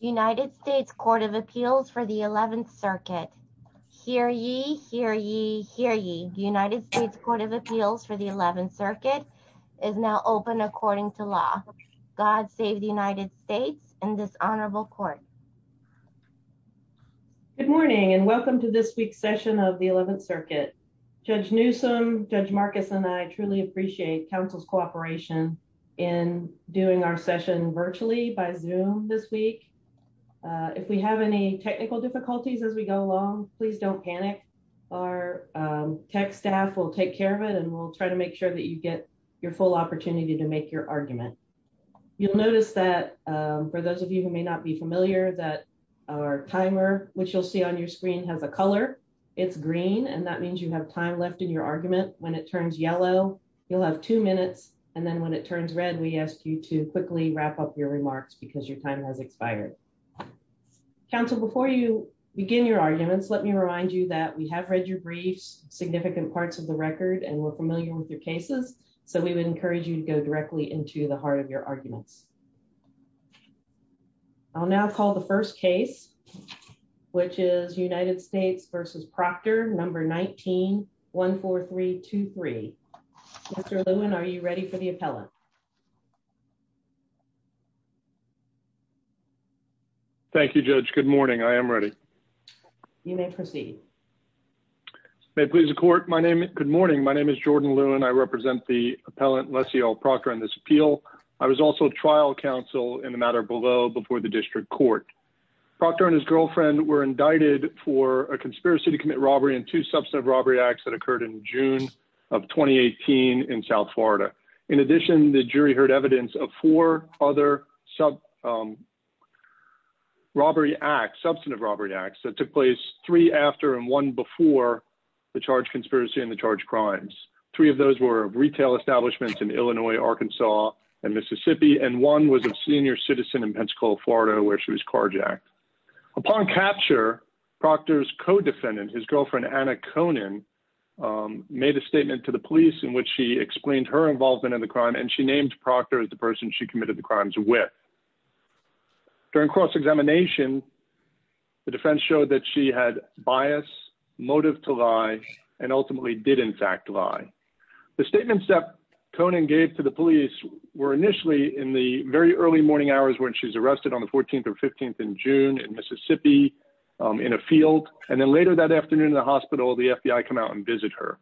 United States Court of Appeals for the 11th Circuit. Hear ye, hear ye, hear ye. United States Court of Appeals for the 11th Circuit is now open according to law. God save the United States and this honorable court. Good morning and welcome to this week's session of the 11th Circuit. Judge Newsome, Judge Marcus and I truly appreciate Council's cooperation in doing our session virtually by Zoom this week. If we have any technical difficulties as we go along, please don't panic. Our tech staff will take care of it and we'll try to make sure that you get your full opportunity to make your argument. You'll notice that for those of you who may not be familiar that our timer, which you'll see on your screen has a color. It's green and that means you have time left in your argument, when it turns yellow, you'll have two minutes, and then when it turns red we asked you to quickly wrap up your remarks because your time has expired. Council before you begin your arguments, let me remind you that we have read your briefs, significant parts of the record and we're familiar with your cases, so we would encourage you to go directly into the heart of your arguments. I'll now call the first case, which is United States v. Proctor, number 1914323. Mr. Lewin, are you ready for the appellant? Thank you, Judge. Good morning. I am ready. You may proceed. May it please the court. Good morning. My name is Jordan Lewin. I represent the appellant, Lessie L. Proctor, on this appeal. I was also trial counsel in the matter below before the district court. Proctor and his girlfriend were indicted for a conspiracy to commit robbery and two substantive robbery acts that occurred in June of 2018 in South Florida. In addition, the jury heard evidence of four other substantive robbery acts that took place three after and one before the charge conspiracy and the charge crimes. Three of those were retail establishments in Illinois, Arkansas, and Mississippi, and one was a senior citizen in Pensacola, Florida, where she was carjacked. Upon capture, Proctor's co-defendant, his girlfriend, Anna Conan, made a statement to the police in which she explained her involvement in the crime, and she named Proctor as the person she committed the crimes with. During cross-examination, the defense showed that she had bias, motive to lie, and ultimately did in fact lie. The statements that Conan gave to the police were initially in the very early morning hours when she was arrested on the 14th or 15th in June in Mississippi in a field, and then later that afternoon in the hospital, the FBI come out and visit her.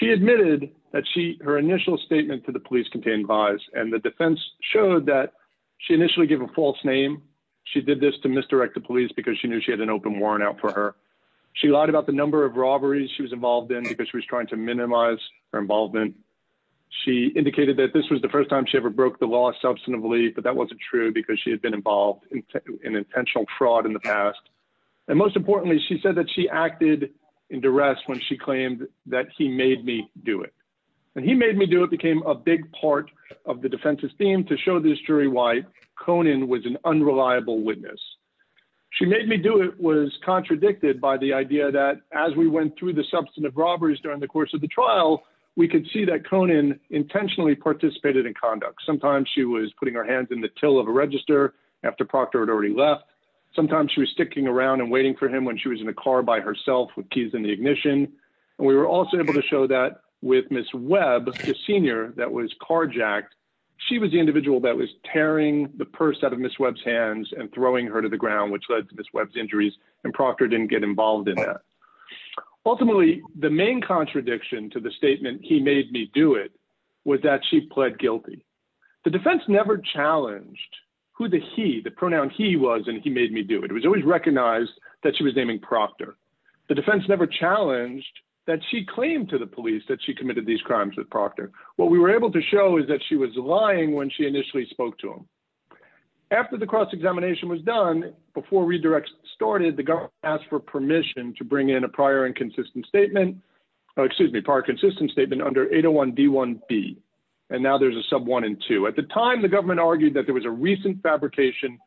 She admitted that her initial statement to the police contained bias, and the defense showed that she initially gave a false name. She did this to misdirect the police because she knew she had an open warrant out for her. She lied about the number of robberies she was involved in because she was trying to minimize her involvement. She indicated that this was the first time she ever broke the law substantively, but that wasn't true because she had been involved in intentional fraud in the past. And most importantly, she said that she acted in duress when she claimed that he made me do it, and he made me do it became a big part of the defense's theme to show this jury why Conan was an unreliable witness. She made me do it was contradicted by the idea that as we went through the substantive robberies during the course of the trial, we could see that Conan intentionally participated in conduct. Sometimes she was putting her hands in the till of a register after Proctor had already left. Sometimes she was sticking around and waiting for him when she was in a car by herself with keys in the ignition. And we were also able to show that with Miss Webb, the senior that was carjacked, she was the individual that was tearing the purse out of Miss Webb's hands and throwing her to the ground, which led to Miss Webb's injuries and Proctor didn't get involved in that. Ultimately, the main contradiction to the statement, he made me do it, was that she pled guilty. The defense never challenged who the he, the pronoun he was and he made me do it. It was always recognized that she was naming Proctor. The defense never challenged that she claimed to the police that she committed these crimes with Proctor. What we were able to show is that she was lying when she initially spoke to him. After the cross-examination was done, before redirects started, the government asked for permission to bring in a prior and consistent statement. Excuse me, prior consistent statement under 801 D1B. And now there's a sub one and two. At the time, the government argued that there was a recent fabrication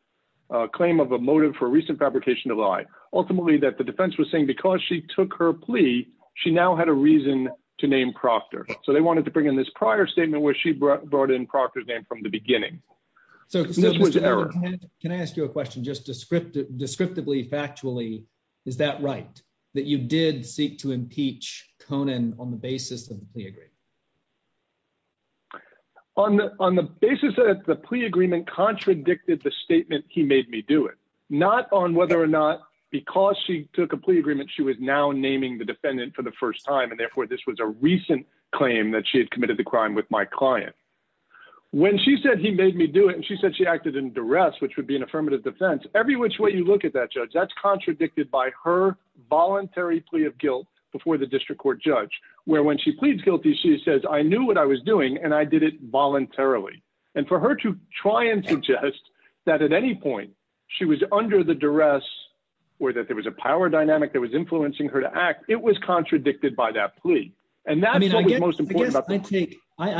claim of a motive for recent fabrication of lie. Ultimately, that the defense was saying because she took her plea, she now had a reason to name Proctor. So they wanted to bring in this prior statement where she brought in Proctor's name from the beginning. So, can I ask you a question just descriptively, factually, is that right? That you did seek to impeach Conan on the basis of the plea agreement? On the basis that the plea agreement contradicted the statement, he made me do it. Not on whether or not because she took a plea agreement, she was now naming the defendant for the first time and therefore this was a recent claim that she had committed the crime with my client. When she said he made me do it and she said she acted in duress, which would be an affirmative defense, every which way you look at that judge, that's contradicted by her voluntary plea of guilt before the district court judge. Where when she pleads guilty, she says, I knew what I was doing and I did it voluntarily. And for her to try and suggest that at any point, she was under the duress or that there was a power dynamic that was influencing her to act, it was contradicted by that plea. I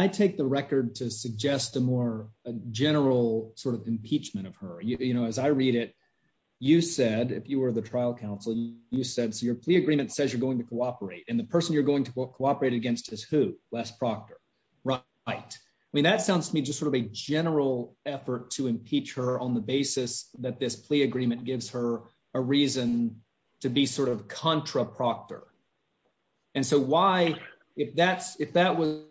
take the record to suggest a more general sort of impeachment of her. You know, as I read it, you said, if you were the trial counsel, you said, so your plea agreement says you're going to cooperate and the person you're going to cooperate against is who? Les Proctor. Right. I mean, that sounds to me just sort of a general effort to impeach her on the basis that this plea agreement gives her a reason to be sort of contra Proctor. And so why, if that's if that was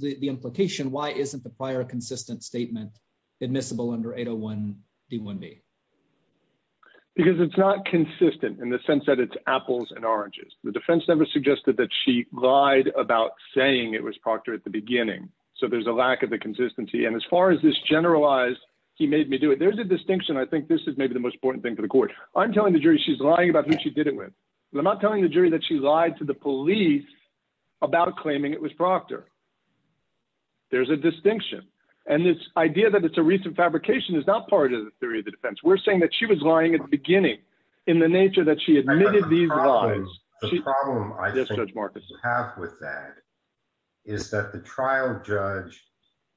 the implication, why isn't the prior consistent statement admissible under 801 D one B. Because it's not consistent in the sense that it's apples and oranges, the defense never suggested that she lied about saying it was Proctor at the beginning. So there's a lack of the consistency. And as far as this generalized, he made me do it. There's a distinction. I think this is maybe the most important thing for the court. I'm telling the jury, she's lying about who she did it with. I'm not telling the jury that she lied to the police about claiming it was Proctor. There's a distinction. And this idea that it's a recent fabrication is not part of the theory of the defense we're saying that she was lying at the beginning in the nature that she admitted these problems. The problem I have with that is that the trial judge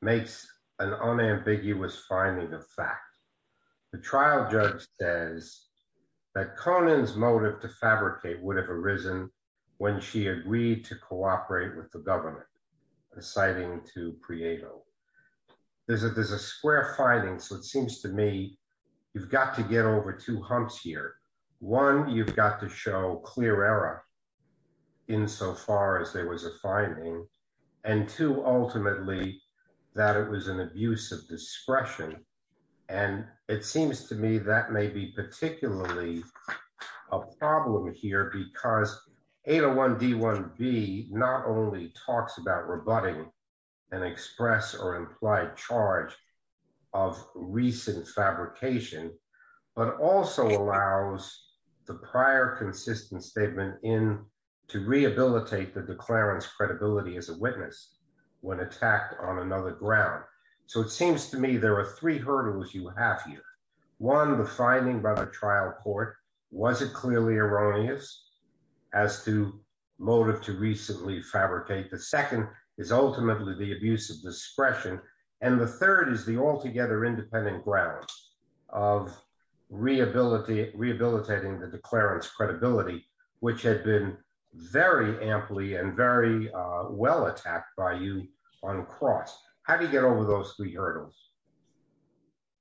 makes an unambiguous finding of fact, the trial judge says that Conan's motive to fabricate would have arisen when she agreed to cooperate with the government, citing to Prieto. There's a there's a square finding so it seems to me, you've got to get over two humps here. One, you've got to show clear error. In so far as there was a finding. And two, ultimately, that it was an abuse of discretion. And it seems to me that may be particularly a problem here because 801 D one B, not only talks about rebutting and express or implied charge of recent fabrication, but also allows the prior consistent statement in to rehabilitate the declarants credibility as a witness. When attacked on another ground. So it seems to me there are three hurdles you have here. One, the finding by the trial court. Was it clearly erroneous as to motive to recently fabricate the second is ultimately the abuse of discretion. And the third is the altogether independent grounds of rehabilitate rehabilitating the declarants credibility, which had been very amply and very well attacked by you on cross, how do you get over those three hurdles.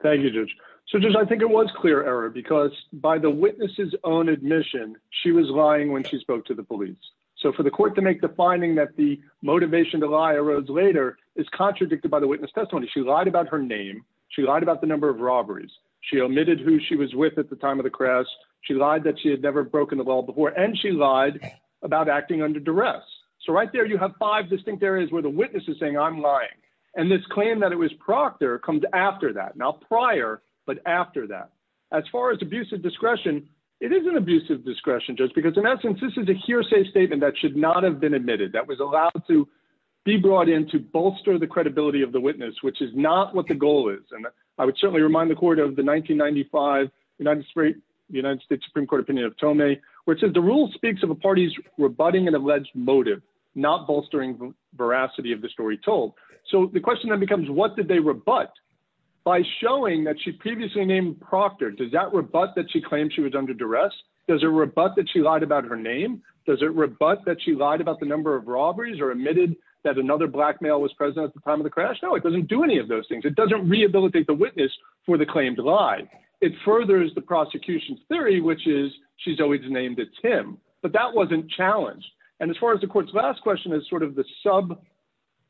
Thank you. So just I think it was clear error because by the witnesses own admission, she was lying when she spoke to the police. So for the court to make the finding that the motivation to lie arose later is contradicted by the witness testimony she lied about her name. She lied about the number of robberies. She omitted who she was with at the time of the crash. She lied that she had never broken the law before and she lied about acting under duress. So right there you have five distinct areas where the witnesses saying I'm lying. And this claim that it was Proctor comes after that now prior, but after that. As far as abusive discretion. It isn't abusive discretion, just because in essence, this is a hearsay statement that should not have been admitted that was allowed to be brought in to bolster the credibility of the witness, which is not what the goal is. And I would certainly remind the court of the 1995 United States, the United States Supreme Court opinion of Tony, which is the rule speaks of a party's rebutting an alleged motive, not bolstering veracity of the story told. So the question that becomes what did they were but by showing that she previously named Proctor does that were but that she claimed she was under duress. Does it rebut that she lied about her name. Does it rebut that she lied about the number of robberies are admitted that another blackmail was present at the time of the crash. No, it doesn't do any of those things. It doesn't rehabilitate the witness for the claimed lie. It furthers the prosecution's theory which is she's always named it's him, but that wasn't challenged. And as far as the court's last question is sort of the sub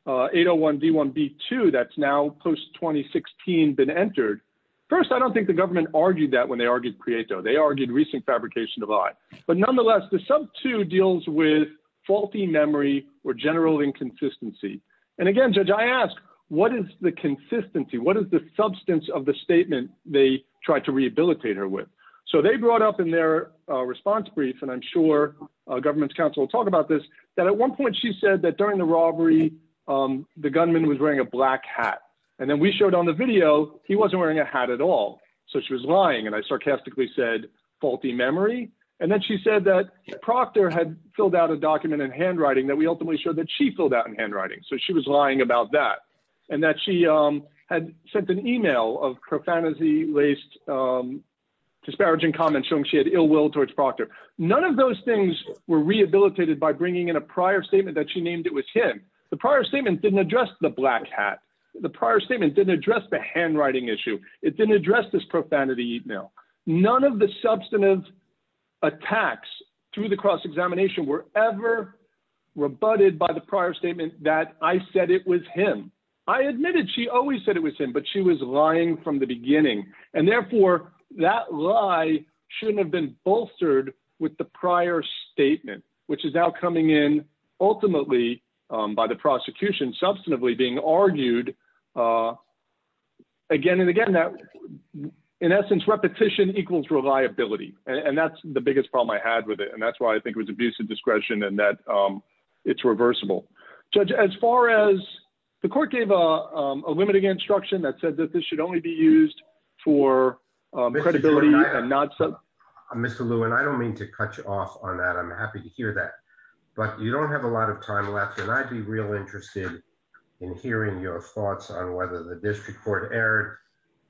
801 d one b two that's now post 2016 been entered. First, I don't think the government argued that when they argued create though they argued recent fabrication of I, but nonetheless the sub two deals with faulty memory or general inconsistency. And again, judge, I asked, what is the consistency. What is the substance of the statement, they tried to rehabilitate her with so they brought up in their response brief and I'm sure government's counsel talk about this, that at one point she said that during the robbery. The gunman was wearing a black hat. And then we showed on the video, he wasn't wearing a hat at all. So she was lying and I sarcastically said faulty memory. And then she said that Proctor had filled out a document in handwriting that we ultimately showed that she filled out in handwriting so she was lying about that. And that she had sent an email of profanity laced disparaging comments showing she had ill will towards Proctor, none of those things were rehabilitated by bringing in a prior statement that she named it was him. The prior statement didn't address the black hat. The prior statement didn't address the handwriting issue. It didn't address this profanity email, none of the substantive attacks through the cross examination were ever rebutted by the prior statement that I said it was him. I admitted she always said it was him, but she was lying from the beginning, and therefore, that lie shouldn't have been bolstered with the prior statement, which is now coming in, ultimately, by the prosecution substantively being argued again and again that in essence repetition equals reliability, and that's the biggest problem I had with it and that's why I think it was abusive discretion and that it's reversible. Judge as far as the court gave a limiting instruction that said that this should only be used for credibility and not so Mr Lewin I don't mean to cut you off on that I'm happy to hear that. But you don't have a lot of time left and I'd be real interested in hearing your thoughts on whether the district court error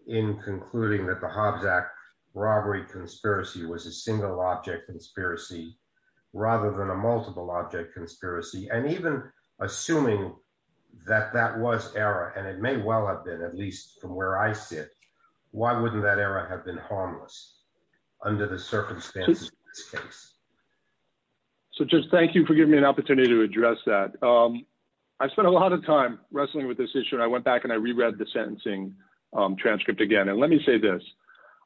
in concluding that the Hobbs act robbery conspiracy was a single object conspiracy, rather than a multiple object conspiracy and even assuming that that was error and it may well have been at least from where I sit. Why wouldn't that error have been harmless under the circumstances. So just thank you for giving me an opportunity to address that. I spent a lot of time wrestling with this issue and I went back and I reread the sentencing transcript again and let me say this.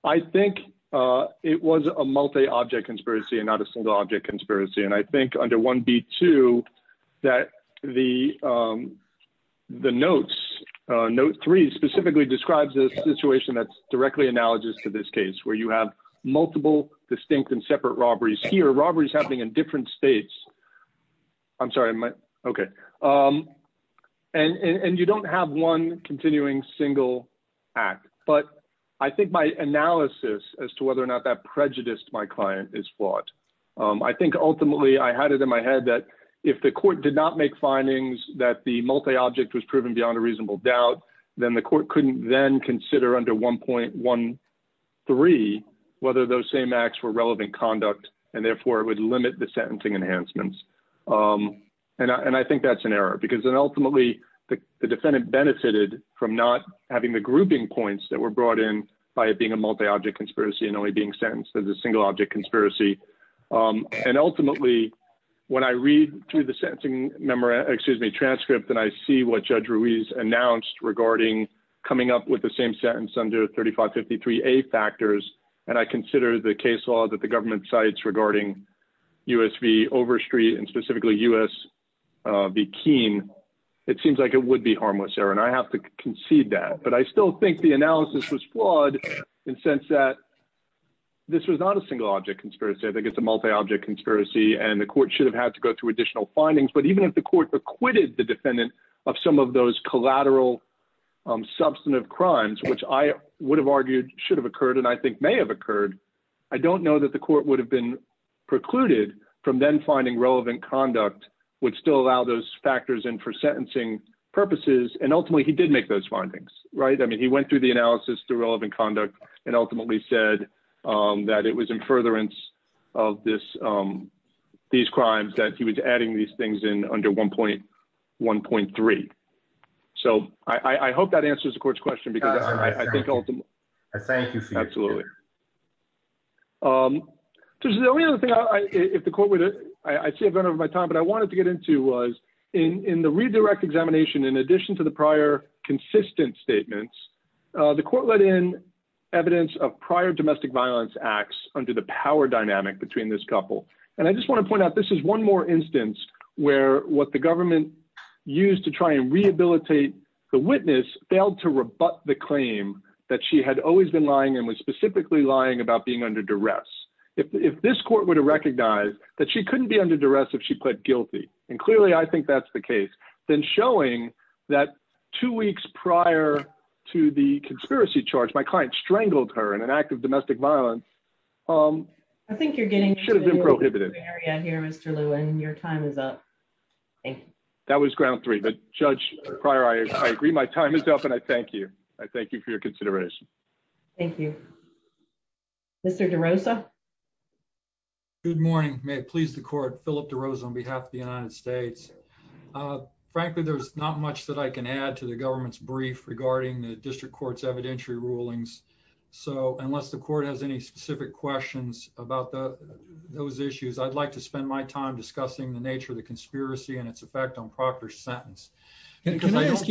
I think it was a multi object conspiracy and not a single object conspiracy and I think under one beat to that the. The notes note three specifically describes this situation that's directly analogous to this case where you have multiple distinct and separate robberies here robberies happening in different states. I'm sorry. Okay. And you don't have one continuing single act, but I think my analysis as to whether or not that prejudiced my client is flawed. I think ultimately I had it in my head that if the court did not make findings that the multi object was proven beyond a reasonable doubt, then the court couldn't then consider under 1.13 whether those same acts were relevant conduct and therefore it would limit the sentencing enhancements. And I think that's an error because then ultimately the defendant benefited from not having the grouping points that were brought in by it being a multi object conspiracy and only being sentenced as a single object conspiracy. And ultimately, when I read through the sentencing memorandum, excuse me, transcript and I see what judge Ruiz announced regarding coming up with the same sentence under 3553 a factors, and I consider the case law that the government sites regarding USV over street and specifically US be keen. It seems like it would be harmless error and I have to concede that but I still think the analysis was flawed in sense that This was not a single object conspiracy. I think it's a multi object conspiracy and the court should have had to go through additional findings, but even if the court acquitted the defendant of some of those collateral Substantive crimes, which I would have argued should have occurred. And I think may have occurred. I don't know that the court would have been precluded from then finding relevant conduct would still allow those factors and for sentencing purposes and ultimately he did make those findings. Right. I mean, he went through the analysis to relevant conduct and ultimately said That it was in furtherance of this. These crimes that he was adding these things in under 1.1 point three. So I hope that answers the court's question because I think Thank you. Absolutely. There's the only other thing I if the court with it. I see a bit of my time, but I wanted to get into was in the redirect examination. In addition to the prior consistent statements. The court let in evidence of prior domestic violence acts under the power dynamic between this couple. And I just want to point out this is one more instance where what the government Used to try and rehabilitate the witness failed to rebut the claim that she had always been lying and was specifically lying about being under duress. If this court would have recognized that she couldn't be under duress if she pled guilty and clearly I think that's the case, then showing that two weeks prior to the conspiracy charge my client strangled her and an act of domestic violence. Um, I think you're getting should have been prohibited. In your time is up. That was ground three. But, Judge prior I agree my time is up and I thank you. I thank you for your consideration. Thank you. Mr. Rosa. Good morning, may it please the court, Philip to Rose on behalf of the United States. Frankly, there's not much that I can add to the government's brief regarding the district courts evidentiary rulings. So, unless the court has any specific questions about the, those issues I'd like to spend my time discussing the nature of the conspiracy and its effect on Proctor sentence. Can I ask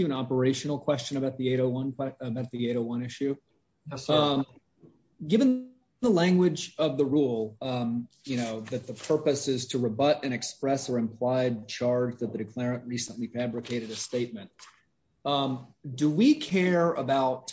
you an operational question about the 801 about the 801 issue. Given the language of the rule, you know that the purpose is to rebut and express or implied charge that the declarant recently fabricated a statement. Do we care about.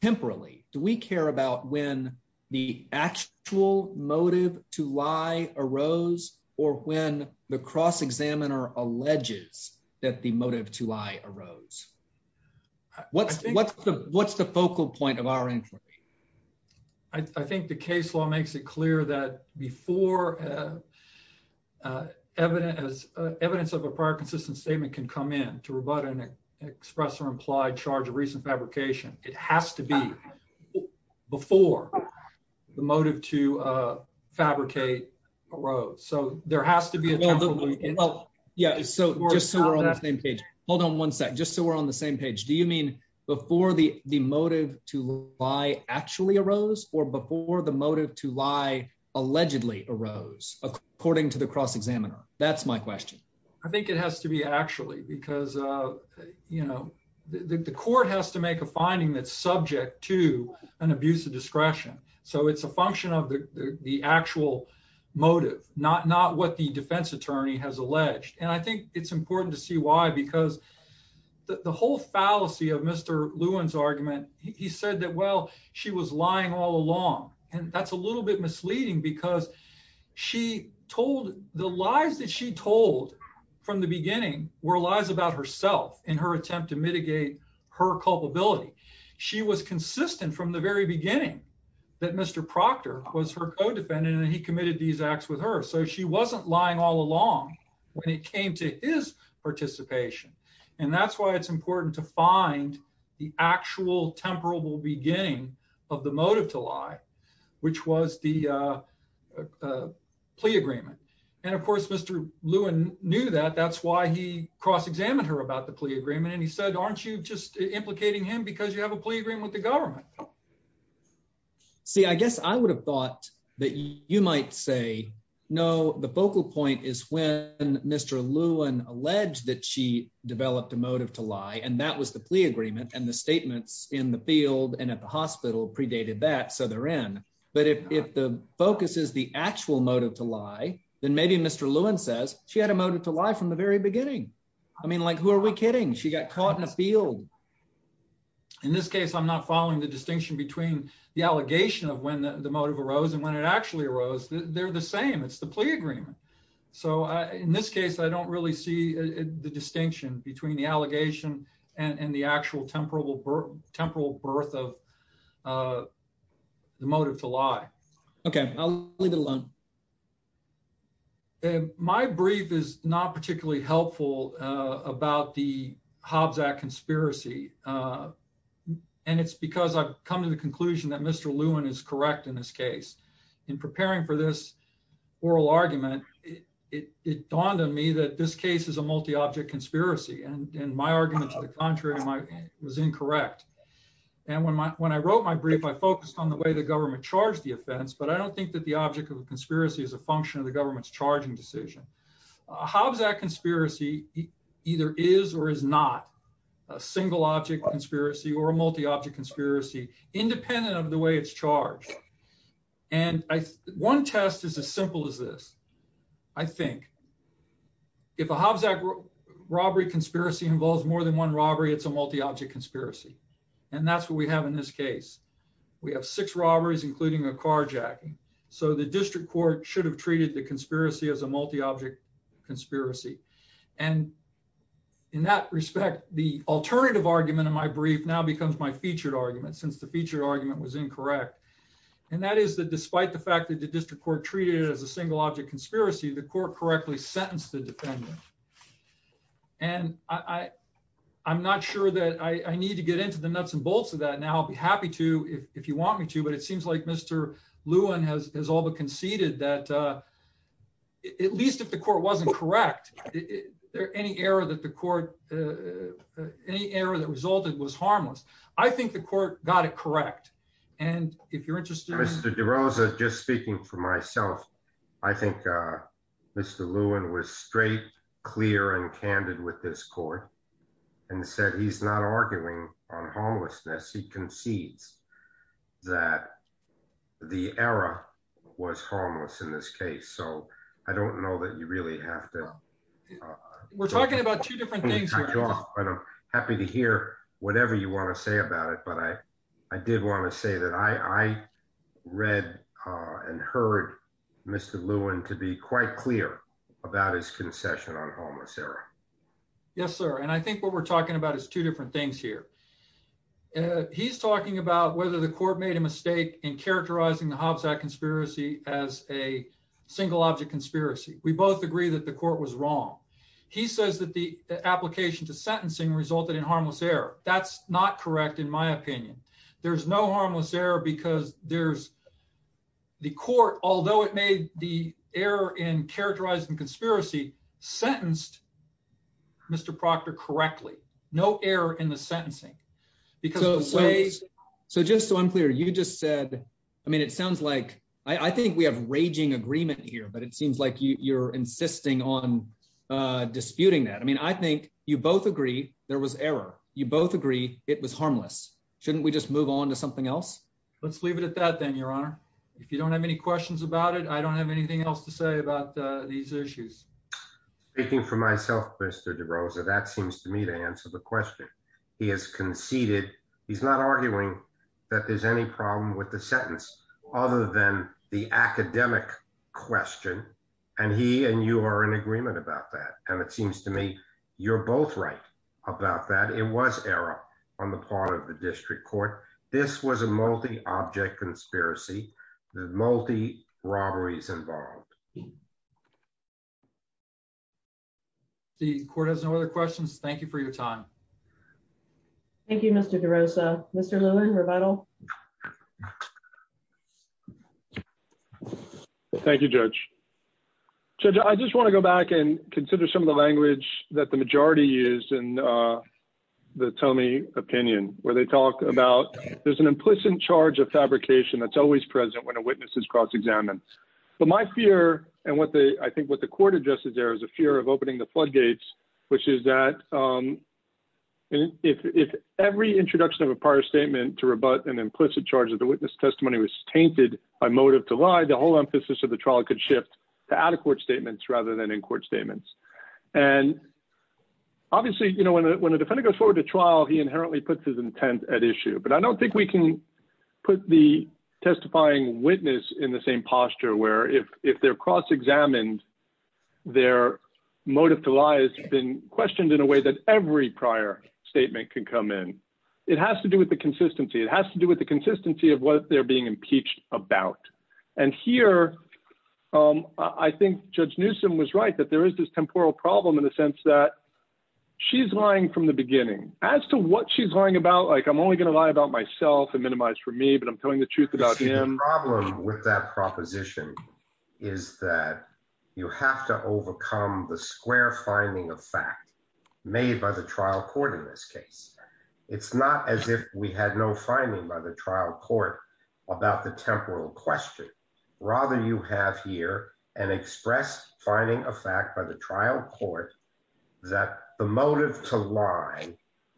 Temporally, do we care about when the actual motive to lie arose, or when the cross examiner alleges that the motive to lie arose. What's, what's the, what's the focal point of our inquiry. I think the case law makes it clear that before evidence as evidence of a prior consistent statement can come in to rebut and express or implied charge of recent fabrication, it has to be before the motive to fabricate a road so there has to be. Yeah, so we're on the same page. Hold on one sec just so we're on the same page. Do you mean before the, the motive to lie actually arose or before the motive to lie, allegedly arose, according to the cross examiner, that's my question. I think it has to be actually because, you know, the court has to make a finding that's subject to an abuse of discretion. So it's a function of the actual motive, not not what the defense attorney has alleged and I think it's important to see why because the whole fallacy of Mr. Lewin's argument, he said that well, she was lying all along, and that's a little bit misleading because she told the lies that she told from the beginning were lies about herself in her attempt to mitigate her culpability. She was consistent from the very beginning that Mr. Proctor was her co defendant and he committed these acts with her so she wasn't lying all along when it came to his participation. And that's why it's important to find the actual temporal beginning of the motive to lie, which was the plea agreement. And of course Mr. Lewin knew that that's why he cross examined her about the plea agreement and he said aren't you just implicating him because you have a plea agreement with the government. See, I guess I would have thought that you might say, no, the focal point is when Mr. Lewin alleged that she developed a motive to lie and that was the plea agreement and the statements in the field and at the hospital predated that so they're in. But if the focus is the actual motive to lie, then maybe Mr. Lewin says she had a motive to lie from the very beginning. I mean like who are we kidding she got caught in a field. In this case I'm not following the distinction between the allegation of when the motive arose and when it actually arose, they're the same it's the plea agreement. So, in this case I don't really see the distinction between the allegation and the actual temporal birth of the motive to lie. Okay, I'll leave it alone. And my brief is not particularly helpful about the Hobbs act conspiracy. And it's because I've come to the conclusion that Mr Lewin is correct in this case in preparing for this oral argument, it dawned on me that this case is a multi object conspiracy and my argument to the contrary, my was incorrect. And when my when I wrote my brief I focused on the way the government charged the offense but I don't think that the object of conspiracy is a function of the government's charging decision. Hobbs act conspiracy, either is or is not a single object conspiracy or a multi object conspiracy, independent of the way it's charged. And one test is as simple as this. I think if a Hobbs act robbery conspiracy involves more than one robbery it's a multi object conspiracy. And that's what we have in this case. We have six robberies including a carjacking. So the district court should have treated the conspiracy as a multi object conspiracy. And in that respect, the alternative argument in my brief now becomes my featured argument since the feature argument was incorrect. And that is that despite the fact that the district court treated as a single object conspiracy the court correctly sentenced the defendant. And I, I'm not sure that I need to get into the nuts and bolts of that now I'll be happy to, if you want me to, but it seems like Mr. Lewin has all the conceded that at least if the court wasn't correct. There any error that the court. Any error that resulted was harmless. I think the court got it correct. And if you're interested in Mr de Rosa just speaking for myself. I think Mr Lewin was straight, clear and candid with this court, and said he's not arguing on homelessness he concedes that the era was harmless in this case so I don't know that you really have to. We're talking about two different things. Happy to hear whatever you want to say about it but I, I did want to say that I read and heard Mr Lewin to be quite clear about his concession on homeless era. Yes, sir. And I think what we're talking about is two different things here. He's talking about whether the court made a mistake in characterizing the Hobbs that conspiracy as a single object conspiracy, we both agree that the court was wrong. He says that the application to sentencing resulted in harmless error, that's not correct in my opinion. There's no harmless error because there's the court, although it made the error in characterizing conspiracy sentenced. Mr Proctor correctly, no error in the sentencing, because of ways. So just so I'm clear you just said, I mean it sounds like I think we have raging agreement here but it seems like you're insisting on disputing that I mean I think you both agree, there was error, you both agree, it was harmless, shouldn't we just move on to something else. Let's leave it at that then your honor. If you don't have any questions about it I don't have anything else to say about these issues. Speaking for myself Mr DeRosa that seems to me to answer the question. He has conceded, he's not arguing that there's any problem with the sentence, other than the academic question, and he and you are in agreement about that, and it seems to me, you're The court has no other questions. Thank you for your time. Thank you, Mr DeRosa, Mr Lewin rebuttal. Thank you, Judge. Judge, I just want to go back and consider some of the language that the majority used in the Tomei opinion, where they talk about, there's an implicit charge of fabrication that's always present when a witness is cross examined. But my fear, and what the, I think what the court addresses there is a fear of opening the floodgates, which is that if every introduction of a prior statement to rebut an implicit charge of the witness testimony was tainted by motive to lie, the whole emphasis of the trial could shift to out of court statements rather than in court statements. And obviously, you know, when a defendant goes forward to trial, he inherently puts his intent at issue, but I don't think we can put the testifying witness in the same posture where if they're cross examined, their motive to lie has been questioned in a way that every prior statement can come in. It has to do with the consistency. It has to do with the consistency of what they're being impeached about. And here, I think Judge Newsom was right that there is this temporal problem in the sense that she's lying from the beginning. As to what she's lying about, like, I'm only going to lie about myself and minimize for me, but I'm telling the truth about him. The problem with that proposition is that you have to overcome the square finding of fact made by the trial court in this case. It's not as if we had no finding by the trial court about the temporal question. Rather, you have here an express finding of fact by the trial court that the motive to lie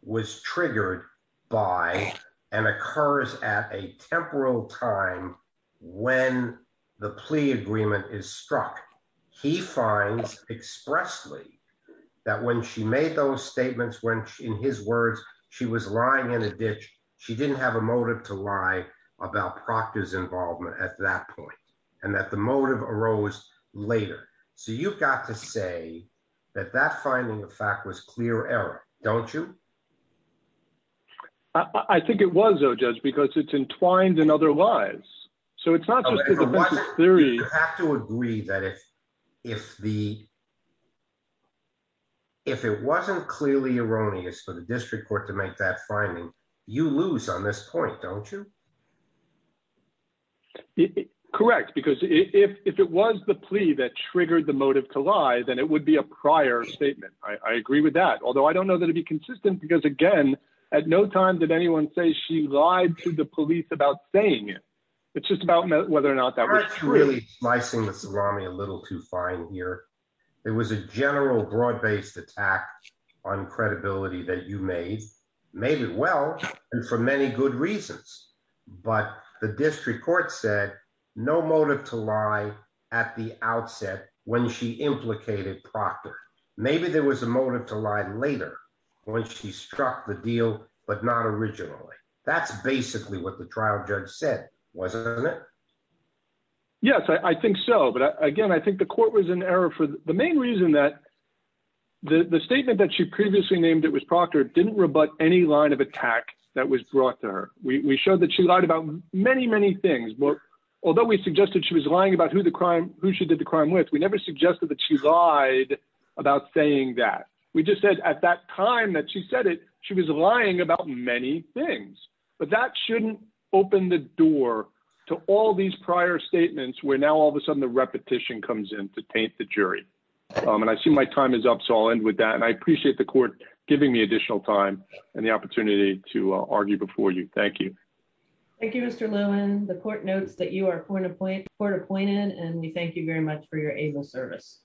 was triggered by and occurs at a temporal time when the plea agreement is struck. He finds expressly that when she made those statements, when, in his words, she was lying in a ditch, she didn't have a motive to lie about Proctor's involvement at that point, and that the motive arose later. So you've got to say that that finding of fact was clear error, don't you? I think it was, though, Judge, because it's entwined in other lies. So it's not just a theory. You have to agree that if it wasn't clearly erroneous for the district court to make that finding, you lose on this point, don't you? Correct, because if it was the plea that triggered the motive to lie, then it would be a prior statement. I agree with that. Although I don't know that it'd be consistent because, again, at no time did anyone say she lied to the police about saying it. It's just about whether or not that was true. The district court said no motive to lie at the outset when she implicated Proctor. Maybe there was a motive to lie later when she struck the deal, but not originally. That's basically what the trial judge said, wasn't it? Yes, I think so. But again, I think the court was in error for the main reason that the statement that she previously named it was Proctor didn't rebut any line of attack that was brought to her. We showed that she lied about many, many things. Although we suggested she was lying about who she did the crime with, we never suggested that she lied about saying that. We just said at that time that she said it, she was lying about many things. But that shouldn't open the door to all these prior statements where now all of a sudden the repetition comes in to taint the jury. And I see my time is up, so I'll end with that. And I appreciate the court giving me additional time and the opportunity to argue before you. Thank you. Thank you, Mr. Lewin. The court notes that you are court appointed and we thank you very much for your able service.